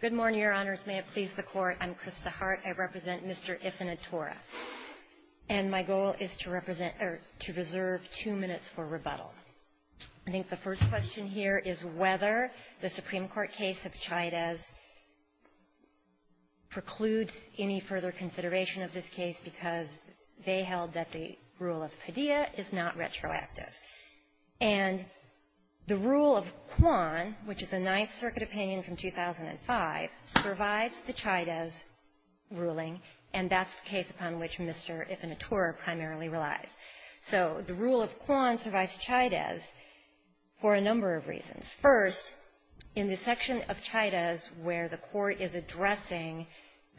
Good morning, Your Honors. May it please the Court, I'm Krista Hart. I represent Mr. Ifenatuora. And my goal is to represent or to reserve two minutes for rebuttal. I think the first question here is whether the Supreme Court case of Chayadez precludes any further consideration of this case because they held that the rule of Padilla is not retroactive. And the rule of Quan, which is a Ninth Circuit opinion from 2005, provides the Chayadez ruling, and that's the case upon which Mr. Ifenatuora primarily relies. So the rule of Quan provides Chayadez for a number of reasons. First, in the section of Chayadez where the Court is addressing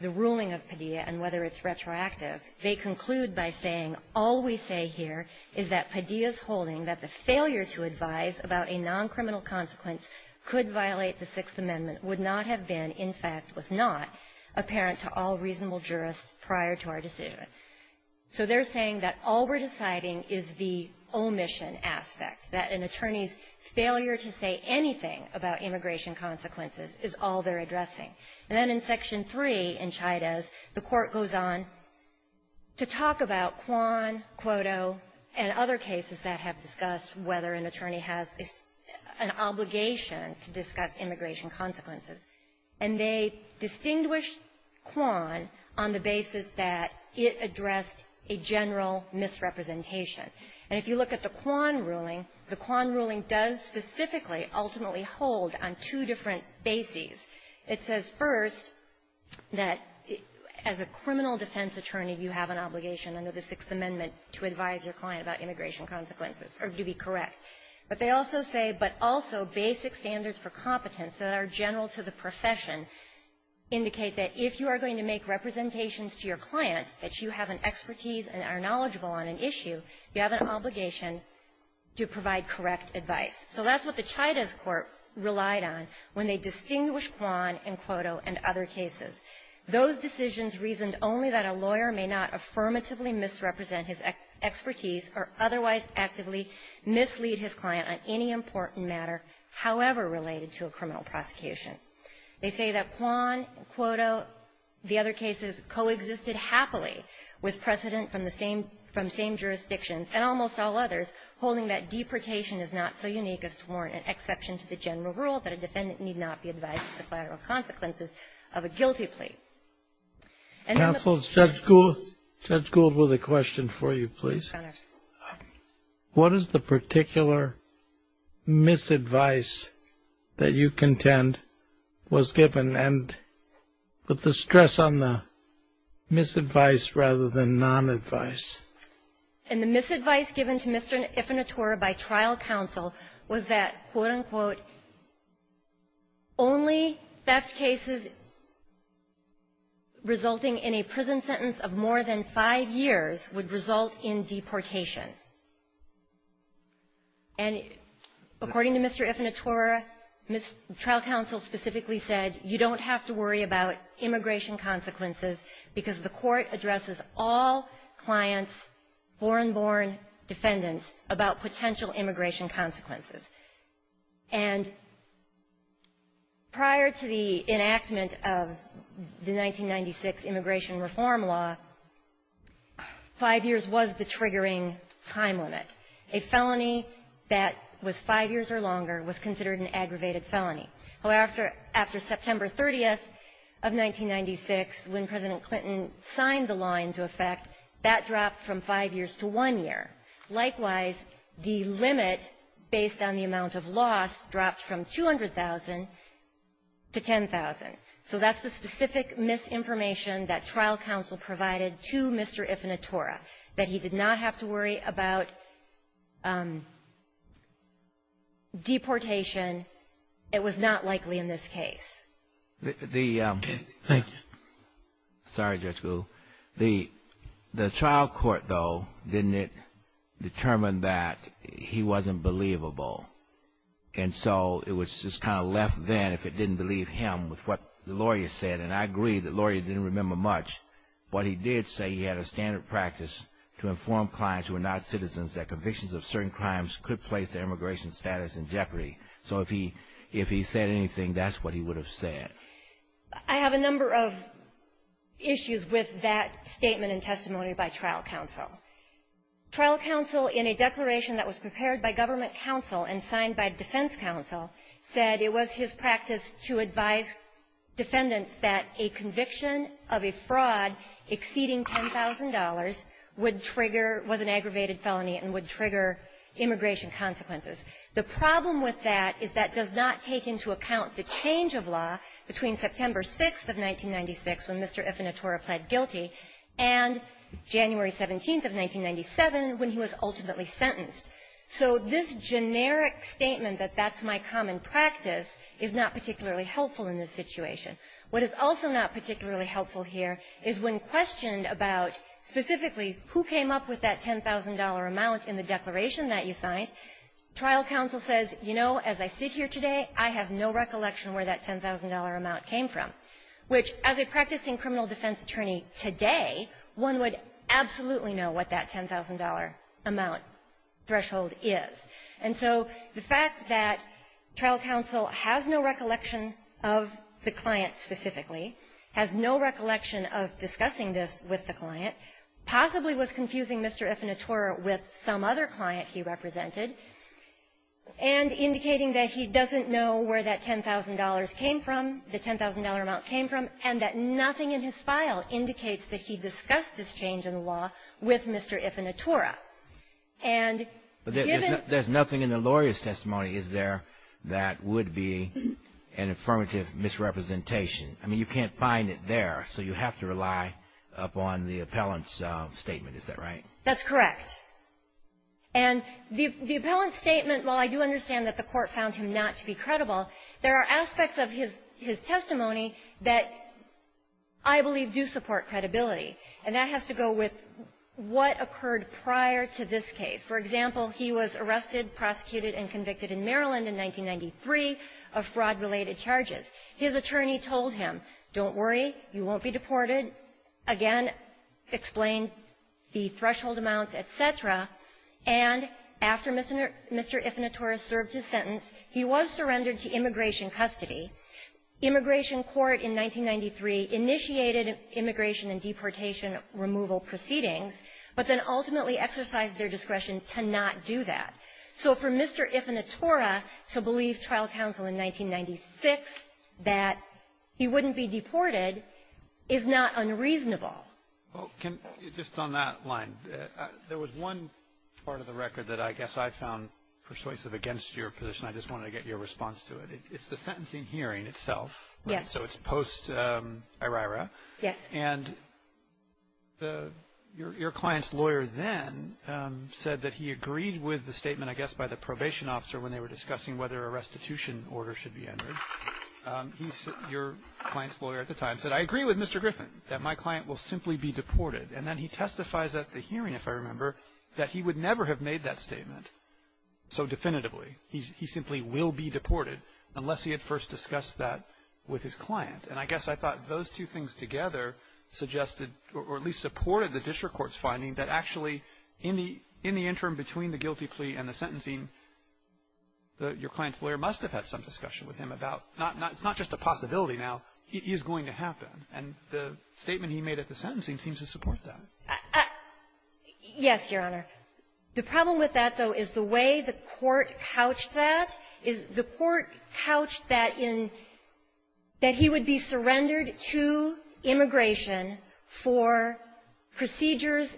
the ruling of Padilla and whether it's retroactive, they conclude by saying, all we say here is that Padilla's holding that the failure to advise about a noncriminal consequence could violate the Sixth Amendment would not have been, in fact, was not, apparent to all reasonable jurists prior to our decision. So they're saying that all we're deciding is the omission aspect, that an attorney's failure to say anything about immigration consequences is all they're addressing. And then in Section 3 in Chayadez, the Court goes on to talk about Quan, Cuoto, and other cases that have discussed whether an attorney has an obligation to discuss immigration consequences. And they distinguish Quan on the basis that it addressed a general misrepresentation. And if you look at the Quan ruling, the Quan ruling does specifically ultimately hold on two different bases. It says, first, that as a criminal defense attorney, you have an obligation under the Sixth Amendment to advise your client about immigration consequences or to be correct. But they also say, but also basic standards for competence that are general to the profession indicate that if you are going to make representations to your client that you have an expertise and are knowledgeable on an issue, you have an obligation to provide correct advice. So that's what the Chayadez Court relied on when they distinguished Quan and Cuoto and other cases. Those decisions reasoned only that a lawyer may not affirmatively misrepresent his expertise or otherwise actively mislead his client on any important matter, however related to a criminal prosecution. They say that Quan, Cuoto, the other cases, coexisted happily with precedent from the same – from same jurisdictions and almost all others, holding that deprecation is not so unique as to warrant an exception to the general rule that a defendant need not be advised of the collateral consequences of a guilty plea. And then the – Counsel, Judge Gould – Judge Gould, with a question for you, please. Yes, Your Honor. What is the particular misadvice that you contend was given? And put the stress on the misadvice rather than non-advice. And the misadvice given to Mr. Ifenitore by trial counsel was that, quote, unquote, only theft cases resulting in a prison sentence of more than five years would result in deportation. And according to Mr. Ifenitore, trial counsel specifically said you don't have to worry about immigration consequences because the court addresses all clients, born-born defendants, about potential immigration consequences. And prior to the enactment of the 1996 immigration reform law, five years was the triggering time limit. A felony that was five years or longer was considered an aggravated felony. However, after September 30th of 1996, when President Clinton signed the law into effect, that dropped from five years to one year. Likewise, the limit based on the amount of loss dropped from 200,000 to 10,000. So that's the specific misinformation that trial counsel provided to Mr. Ifenitore, that he did not have to worry about deportation. It was not likely in this case. The ---- Thank you. Sorry, Judge Gould. The trial court, though, didn't it determine that he wasn't believable. And so it was just kind of left then if it didn't believe him with what the lawyer said. And I agree the lawyer didn't remember much. But he did say he had a standard practice to inform clients who are not citizens that convictions of certain crimes could place their immigration status in jeopardy. So if he said anything, that's what he would have said. I have a number of issues with that statement and testimony by trial counsel. Trial counsel, in a declaration that was prepared by government counsel and signed by defense counsel, said it was his practice to advise defendants that a conviction of a fraud exceeding $10,000 would trigger ---- was an aggravated felony and would trigger immigration consequences. The problem with that is that does not take into account the change of law between September 6th of 1996, when Mr. Ifenitore pled guilty, and January 17th of 1997, when he was ultimately sentenced. So this generic statement that that's my common practice is not particularly helpful in this situation. What is also not particularly helpful here is when questioned about specifically who came up with that $10,000 amount in the declaration that you signed, trial counsel says, you know, as I sit here today, I have no recollection where that $10,000 amount came from, which, as a practicing criminal defense attorney today, one would absolutely know what that $10,000 amount threshold is. And so the fact that trial counsel has no recollection of the client's intent to do this, the client specifically, has no recollection of discussing this with the client, possibly was confusing Mr. Ifenitore with some other client he represented, and indicating that he doesn't know where that $10,000 came from, the $10,000 amount came from, and that nothing in his file indicates that he discussed this change in the law with Mr. Ifenitore, and given ---- I mean, you can't find it there, so you have to rely upon the appellant's statement. Is that right? That's correct. And the appellant's statement, while I do understand that the court found him not to be credible, there are aspects of his testimony that I believe do support credibility, and that has to go with what occurred prior to this case. For example, he was arrested, prosecuted, and convicted in Maryland in 1993 of fraud-related charges. His attorney told him, don't worry, you won't be deported. Again, explained the threshold amounts, et cetera. And after Mr. Ifenitore served his sentence, he was surrendered to immigration custody. Immigration court in 1993 initiated immigration and deportation removal proceedings, but then ultimately exercised their discretion to not do that. So for Mr. Ifenitore to believe trial counsel in 1996 that he wouldn't be deported is not unreasonable. Well, can ---- just on that line, there was one part of the record that I guess I found persuasive against your position. I just wanted to get your response to it. It's the sentencing hearing itself. Yes. So it's post-Iraira. Yes. And your client's lawyer then said that he agreed with the statement, I guess, by the probation officer when they were discussing whether a restitution order should be entered. Your client's lawyer at the time said, I agree with Mr. Griffin that my client will simply be deported. And then he testifies at the hearing, if I remember, that he would never have made that statement so definitively. He simply will be deported unless he had first discussed that with his client. And I guess I thought those two things together suggested, or at least supported, the district court's finding that actually, in the interim between the guilty plea and the sentencing, your client's lawyer must have had some discussion with him about not ---- it's not just a possibility now. It is going to happen. And the statement he made at the sentencing seems to support that. Yes, Your Honor. The problem with that, though, is the way the court couched that is the court couched that in that he would be surrendered to immigration for procedures,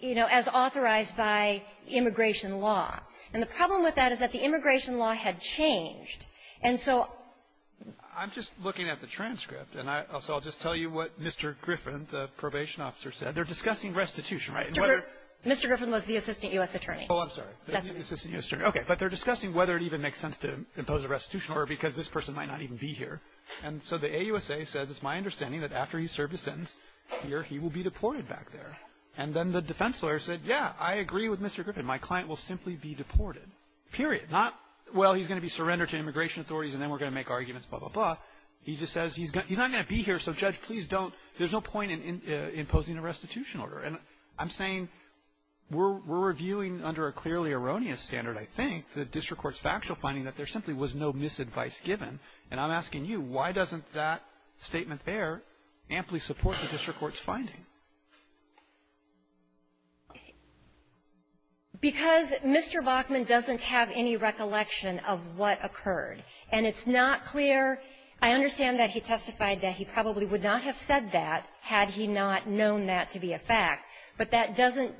you know, as authorized by immigration law. And the problem with that is that the immigration law had changed. And so ---- I'm just looking at the transcript. And I also will just tell you what Mr. Griffin, the probation officer, said. They're discussing restitution, right? And whether ---- Mr. Griffin was the assistant U.S. attorney. Oh, I'm sorry. The assistant U.S. attorney. Okay. But they're discussing whether it even makes sense to impose a restitution order because this person might not even be here. And so the AUSA says it's my understanding that after he's served his sentence here, he will be deported back there. And then the defense lawyer said, yeah, I agree with Mr. Griffin. My client will simply be deported, period. Not, well, he's going to be surrendered to immigration authorities, and then we're going to make arguments, blah, blah, blah. He just says he's not going to be here, so, Judge, please don't ---- there's no point in imposing a restitution order. And I'm saying we're reviewing under a clearly erroneous standard, I think, the district court's factual finding that there simply was no misadvice given. And I'm asking you, why doesn't that statement there amply support the district court's finding? Because Mr. Bachman doesn't have any recollection of what occurred. And it's not clear. I understand that he testified that he probably would not have said that had he not known that to be a fact. But that doesn't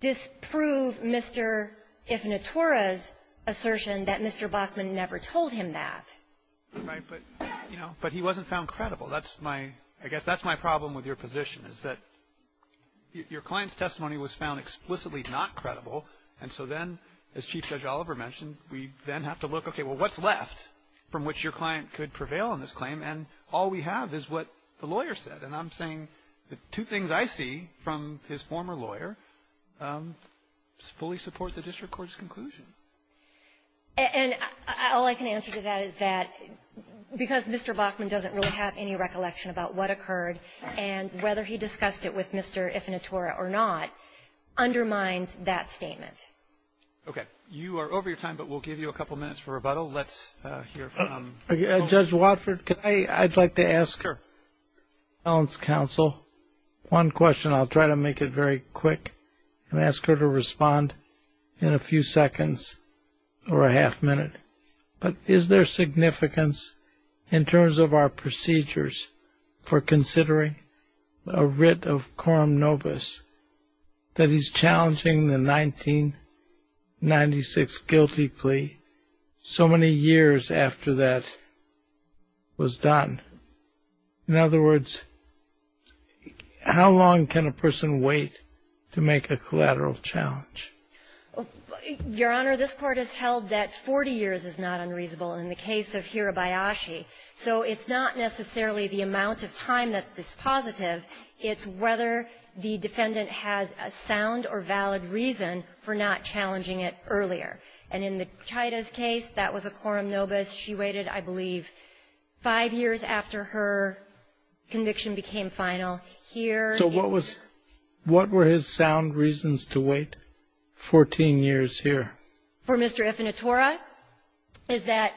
disprove Mr. Ifnatura's assertion that Mr. Bachman never told him that. Right. But, you know, but he wasn't found credible. That's my ---- I guess that's my problem with your position, is that your client's testimony was found explicitly not credible, and so then, as Chief Judge Oliver mentioned, we then have to look, okay, well, what's left from which your client could prevail on this claim? And all we have is what the lawyer said. And I'm saying the two things I see from his former lawyer fully support the district court's conclusion. And all I can answer to that is that because Mr. Bachman doesn't really have any recollection about what occurred and whether he discussed it with Mr. Ifnatura or not undermines that statement. Okay. You are over your time, but we'll give you a couple minutes for rebuttal. Let's hear from ---- Judge Watford, I'd like to ask your counsel one question. I'll try to make it very quick and ask her to respond in a few seconds or a half minute. But is there significance in terms of our procedures for considering a writ of the defendant's testimony many years after that was done? In other words, how long can a person wait to make a collateral challenge? Your Honor, this Court has held that 40 years is not unreasonable in the case of Hirabayashi. So it's not necessarily the amount of time that's dispositive. It's whether the defendant has a sound or valid reason for not challenging it earlier. And in the Chaita's case, that was a quorum nobis. She waited, I believe, five years after her conviction became final. Here ---- So what was ---- what were his sound reasons to wait 14 years here? For Mr. Ifnatura is that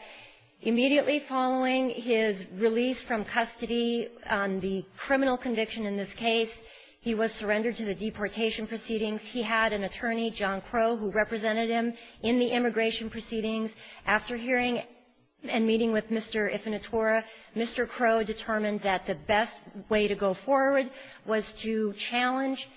immediately following his release from custody on the criminal conviction in this case, he was surrendered to the deportation proceedings. He had an attorney, John Crowe, who represented him in the immigration proceedings. After hearing and meeting with Mr. Ifnatura, Mr. Crowe determined that the best way to go forward was to challenge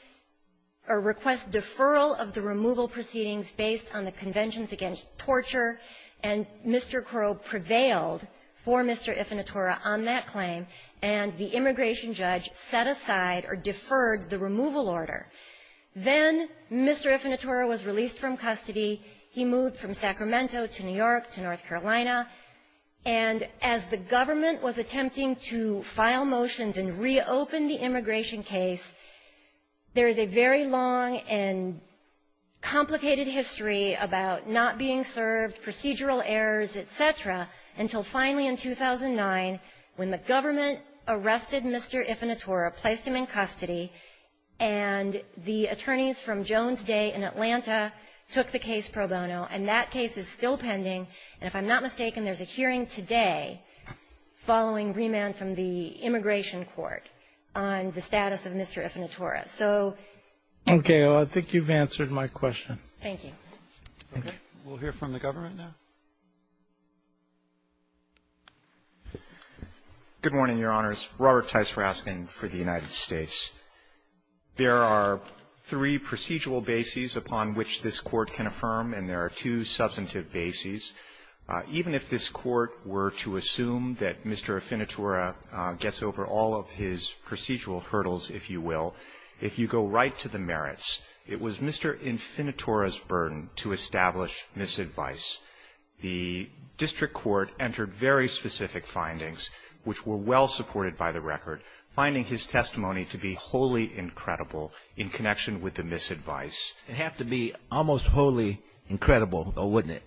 or request deferral of the removal proceedings based on the Conventions Against Torture. And Mr. Crowe prevailed for Mr. Ifnatura on that claim. And the immigration judge set aside or deferred the removal order. Then Mr. Ifnatura was released from custody. He moved from Sacramento to New York to North Carolina. And as the government was attempting to file motions and reopen the immigration case, there is a very long and complicated history about not being served, procedural errors, et cetera, until finally in 2009, when the government arrested Mr. Ifnatura, placed him in custody, and the attorneys from Jones Day in Atlanta took the case pro bono. And that case is still pending. And if I'm not mistaken, there's a hearing today following remand from the immigration court on the status of Mr. Ifnatura. So ---- Roberts, I think you've answered my question. Thank you. Okay. We'll hear from the government now. Good morning, Your Honors. Robert Tice for asking for the United States. There are three procedural bases upon which this Court can affirm, and there are two substantive bases. Even if this Court were to assume that Mr. Ifnatura gets over all of his procedural hurdles, if you will, if you go right to the merits, it was Mr. Ifnatura's burden to establish misadvice. The district court entered very specific findings, which were well supported by the record, finding his testimony to be wholly incredible in connection with the misadvice. It'd have to be almost wholly incredible, though, wouldn't it?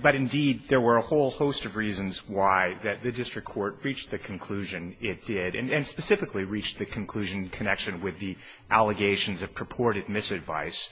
But indeed, there were a whole host of reasons why that the district court reached the conclusion it did, and specifically reached the conclusion in connection with the allegations of purported misadvice.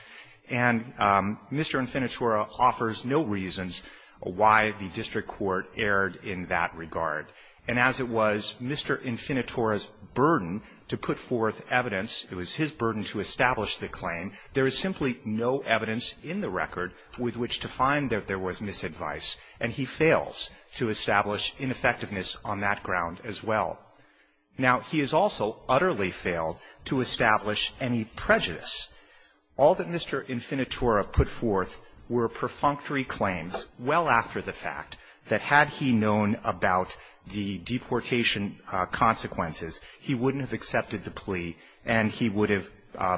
And Mr. Ifnatura offers no reasons why the district court erred in that regard. And as it was Mr. Ifnatura's burden to put forth evidence, it was his burden to establish the claim, there is simply no evidence in the record with which to find that there was misadvice, and he fails to establish ineffectiveness on that ground as well. Now, he has also utterly failed to establish any prejudice. All that Mr. Ifnatura put forth were perfunctory claims, well after the fact, that had he known about the deportation consequences, he wouldn't have accepted the plea, and he would have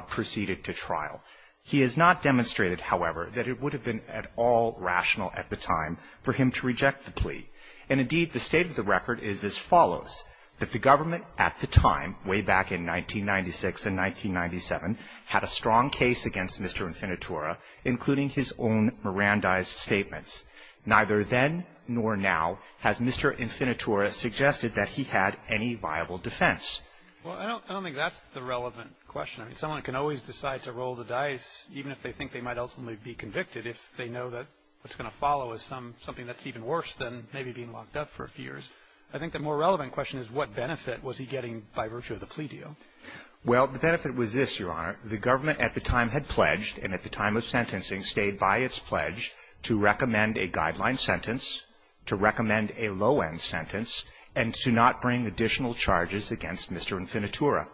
proceeded to trial. He has not demonstrated, however, that it would have been at all rational at the time for him to reject the plea. And indeed, the state of the record is as follows, that the government at the time, way back in 1996 and 1997, had a strong case against Mr. Ifnatura, including his own Mirandized statements. Neither then nor now has Mr. Ifnatura suggested that he had any viable defense. Well, I don't think that's the relevant question. I mean, someone can always decide to roll the dice, even if they think they might ultimately be convicted, if they know that what's going to follow is something that's even worse than maybe being locked up for a few years. I think the more relevant question is what benefit was he getting by virtue of the plea deal? Well, the benefit was this, Your Honor. The government at the time had pledged, and at the time of sentencing stayed by its pledge, to recommend a guideline sentence, to recommend a low-end sentence, and to not bring additional charges against Mr. Ifnatura.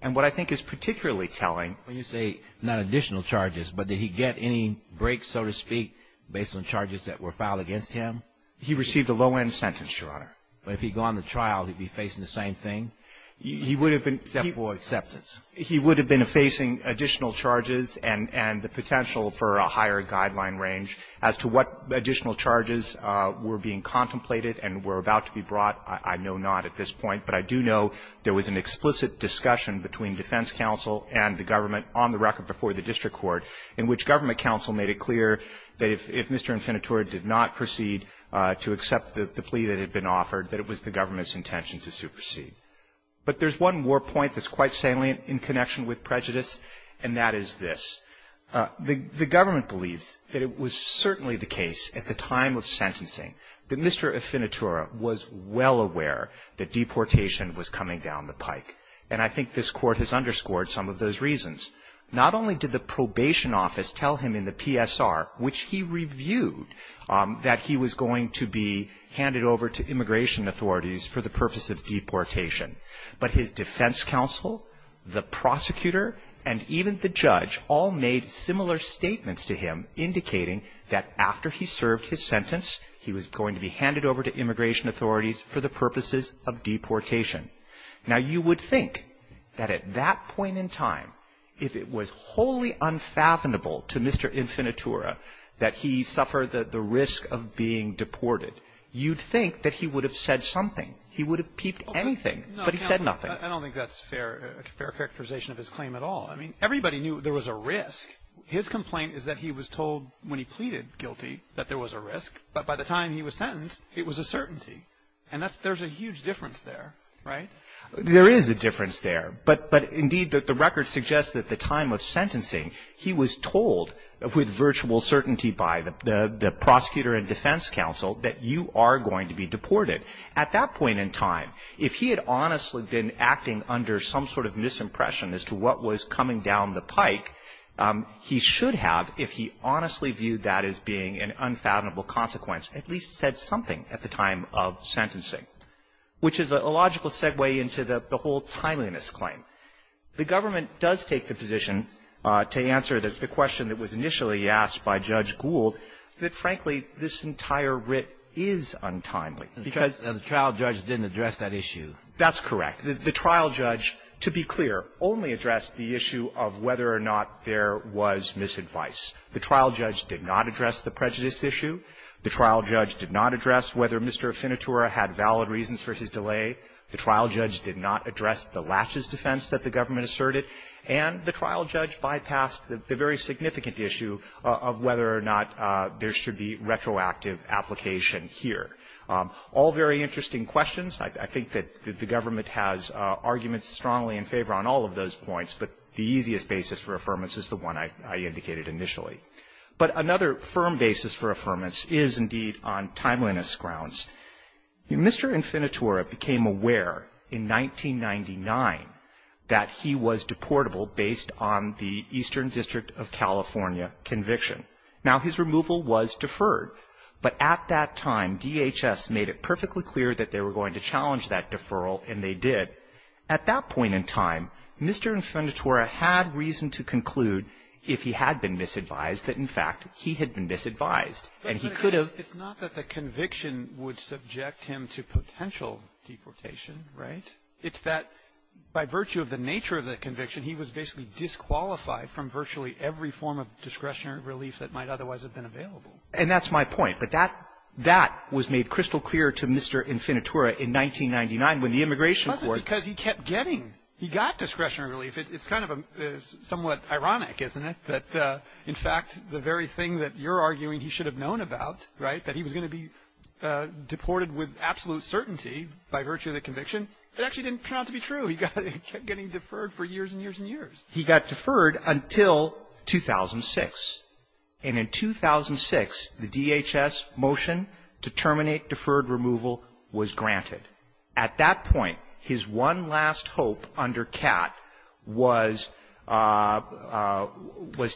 And what I think is particularly telling — When you say not additional charges, but did he get any break, so to speak, based on charges that were filed against him? He received a low-end sentence, Your Honor. But if he'd gone to trial, he'd be facing the same thing? He would have been — Except for acceptance. He would have been facing additional charges and the potential for a higher guideline range. As to what additional charges were being contemplated and were about to be brought, I know not at this point. But I do know there was an explicit discussion between defense counsel and the government on the record before the district court, in which government counsel made it clear that if Mr. Ifnatura did not proceed to accept the plea that had been offered, that it was the government's intention to supersede. But there's one more point that's quite salient in connection with prejudice, and that is this. The government believes that it was certainly the case, at the time of sentencing, that Mr. Ifnatura was well aware that deportation was coming down the pike. And I think this Court has underscored some of those reasons. Not only did the probation office tell him in the PSR, which he reviewed, that he was going to be handed over to immigration authorities for the purpose of deportation. But his defense counsel, the prosecutor, and even the judge all made similar statements to him indicating that after he served his sentence, he was going to be handed over to immigration authorities for the purposes of deportation. Now, you would think that at that point in time, if it was wholly unfathomable to Mr. Ifnatura that he suffered the risk of being deported, you'd think that he would have said something. He would have peeped anything, but he said nothing. I don't think that's a fair characterization of his claim at all. I mean, everybody knew there was a risk. His complaint is that he was told when he pleaded guilty that there was a risk. But by the time he was sentenced, it was a certainty. And there's a huge difference there, right? There is a difference there. But indeed, the record suggests that at the time of sentencing, he was told with virtual certainty by the prosecutor and defense counsel that you are going to be deported. At that point in time, if he had honestly been acting under some sort of misimpression as to what was coming down the pike, he should have, if he honestly viewed that as being an unfathomable consequence, at least said something at the time of sentencing, which is a logical segue into the whole timeliness claim. The government does take the position to answer the question that was initially asked by Judge Gould that, frankly, this entire writ is untimely because the trial judge didn't address that issue. That's correct. The trial judge, to be clear, only addressed the issue of whether or not there was misadvice. The trial judge did not address the prejudice issue. The trial judge did not address whether Mr. Affinitura had valid reasons for his delay. The trial judge did not address the laches defense that the government asserted. And the trial judge bypassed the very significant issue of whether or not there should be retroactive application here. All very interesting questions. I think that the government has arguments strongly in favor on all of those points, but the easiest basis for affirmance is the one I indicated initially. But another firm basis for affirmance is indeed on timeliness grounds. Mr. Affinitura became aware in 1999 that he was deportable based on the Eastern District of California conviction. Now, his removal was deferred. But at that time, DHS made it perfectly clear that they were going to challenge that deferral, and they did. At that point in time, Mr. Affinitura had reason to conclude if he had been misadvised, that, in fact, he had been misadvised. And he could have ---- But it's not that the conviction would subject him to potential deportation, right? It's that by virtue of the nature of the conviction, he was basically disqualified from virtually every form of discretionary relief that might otherwise have been available. And that's my point. But that was made crystal clear to Mr. Affinitura in 1999 when the immigration court ---- Because he kept getting. He got discretionary relief. It's kind of somewhat ironic, isn't it, that, in fact, the very thing that you're arguing he should have known about, right, that he was going to be deported with absolute certainty by virtue of the conviction, it actually didn't turn out to be true. He kept getting deferred for years and years and years. He got deferred until 2006. And in 2006, the DHS motion to terminate deferred removal was granted. At that point, his one last hope under CAT was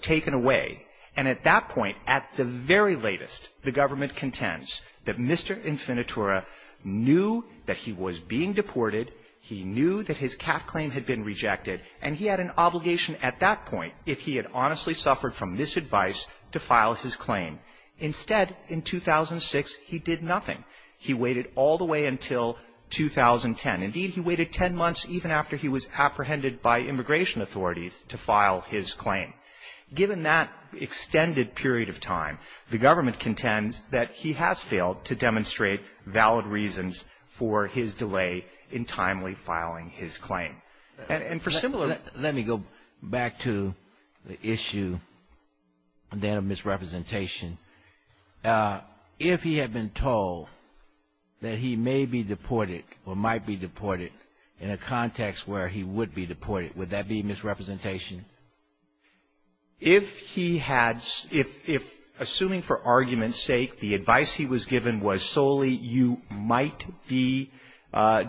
taken away. And at that point, at the very latest, the government contends that Mr. Affinitura knew that he was being deported. He knew that his CAT claim had been rejected. And he had an obligation at that point, if he had honestly suffered from this advice, to file his claim. Instead, in 2006, he did nothing. He waited all the way until 2010. Indeed, he waited 10 months even after he was apprehended by immigration authorities to file his claim. Given that extended period of time, the government contends that he has failed to demonstrate valid reasons for his delay in timely filing his claim. And for similar ---- that he may be deported or might be deported in a context where he would be deported. Would that be misrepresentation? If he had ---- if assuming for argument's sake the advice he was given was solely you might be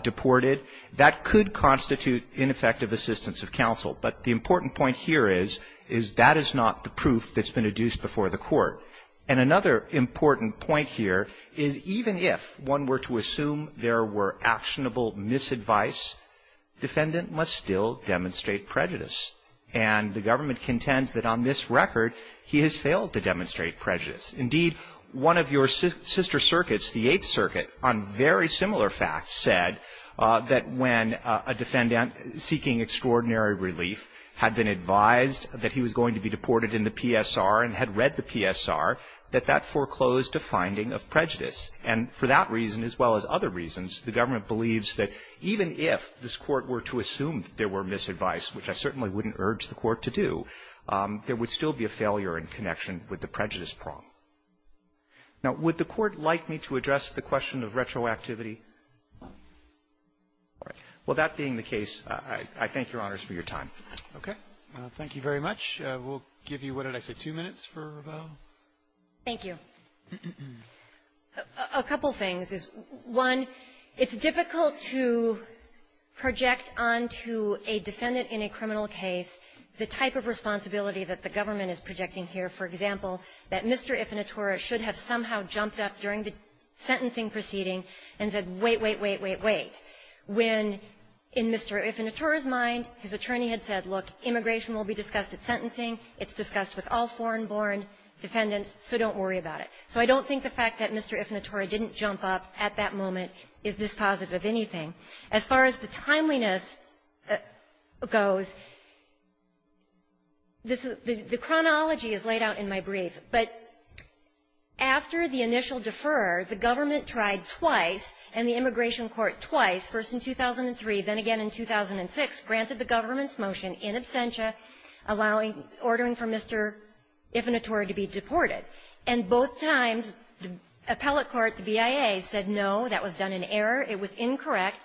deported, that could constitute ineffective assistance of counsel. But the important point here is, is that is not the proof that's been adduced before the Court. And another important point here is even if one were to assume there were actionable misadvice, defendant must still demonstrate prejudice. And the government contends that on this record, he has failed to demonstrate prejudice. Indeed, one of your sister circuits, the Eighth Circuit, on very similar facts said that when a defendant seeking extraordinary relief had been advised that he was going to be deported in the PSR and had read the PSR, that that foreclosed a finding of prejudice. And for that reason as well as other reasons, the government believes that even if this Court were to assume there were misadvice, which I certainly wouldn't urge the Court to do, there would still be a failure in connection with the prejudice prong. Now, would the Court like me to address the question of retroactivity? All right. Well, that being the case, I thank Your Honors for your time. Okay. Thank you very much. We'll give you, what did I say, two minutes for Ravel? Thank you. A couple things. One, it's difficult to project onto a defendant in a criminal case the type of responsibility that the government is projecting here. For example, that Mr. Ifinitura should have somehow jumped up during the sentencing proceeding and said, wait, wait, wait, wait, wait, when in Mr. Ifinitura's mind, his attorney had said, look, immigration will be discussed at sentencing. It's discussed with all foreign-born defendants, so don't worry about it. So I don't think the fact that Mr. Ifinitura didn't jump up at that moment is dispositive of anything. As far as the timeliness goes, this is the chronology is laid out in my brief. But after the initial defer, the government tried twice, and the immigration court twice, first in 2003, then again in 2006, granted the government's motion in absentia, allowing, ordering for Mr. Ifinitura to be deported. And both times, the appellate court, the BIA, said no, that was done in error, it was incorrect.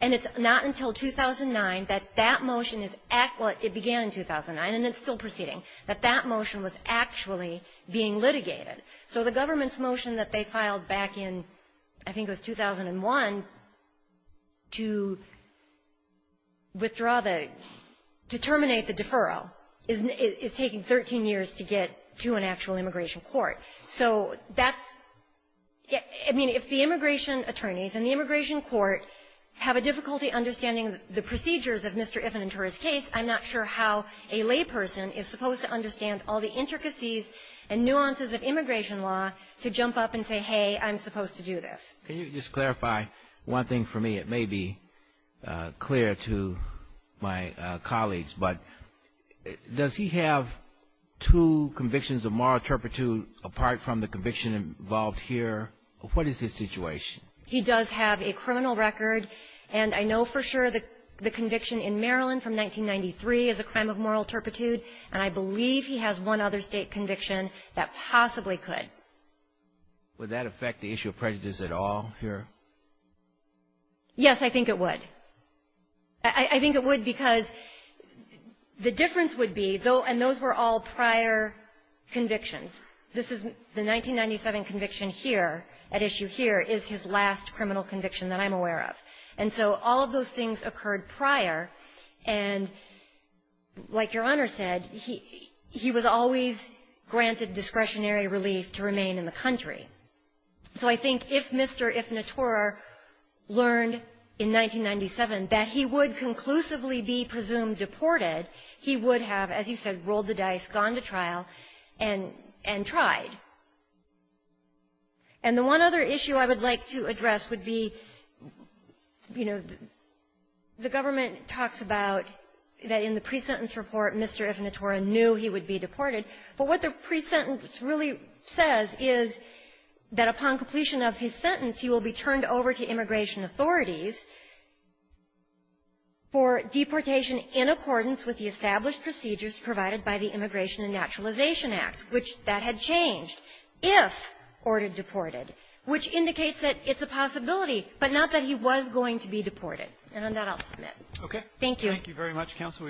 And it's not until 2009 that that motion is, it began in 2009, and it's still proceeding, that that motion was actually being litigated. So the government's effort back in, I think it was 2001, to withdraw the, to terminate the deferral is taking 13 years to get to an actual immigration court. So that's, I mean, if the immigration attorneys and the immigration court have a difficulty understanding the procedures of Mr. Ifinitura's case, I'm not sure how a layperson is supposed to understand all the intricacies and nuances of immigration law to jump up and say, hey, I'm supposed to do this. Can you just clarify one thing for me? It may be clear to my colleagues, but does he have two convictions of moral turpitude apart from the conviction involved here? What is his situation? He does have a criminal record, and I know for sure that the conviction in Maryland from 1993 is a crime of moral turpitude, and I believe he has one other State conviction that possibly could. Would that affect the issue of prejudice at all here? Yes, I think it would. I think it would because the difference would be, though, and those were all prior convictions. This is the 1997 conviction here, at issue here, is his last criminal conviction that I'm aware of. And so all of those things occurred prior, and like Your Honor said, he was always granted discretionary relief to remain in the country. So I think if Mr. Ifinitura learned in 1997 that he would conclusively be presumed deported, he would have, as you said, rolled the dice, gone to trial, and tried. And the one other issue I would like to address would be, you know, the government talks about that in the pre-sentence report, Mr. Ifinitura knew he would be deported. But what the pre-sentence really says is that upon completion of his sentence, he will be turned over to immigration authorities for deportation in accordance with the established procedures provided by the Immigration and Naturalization Act, which that had changed if ordered deported, which indicates that it's a possibility, but not that he was going to be deported. And on that, I'll submit. Okay. Thank you. Thank you very much, counsel.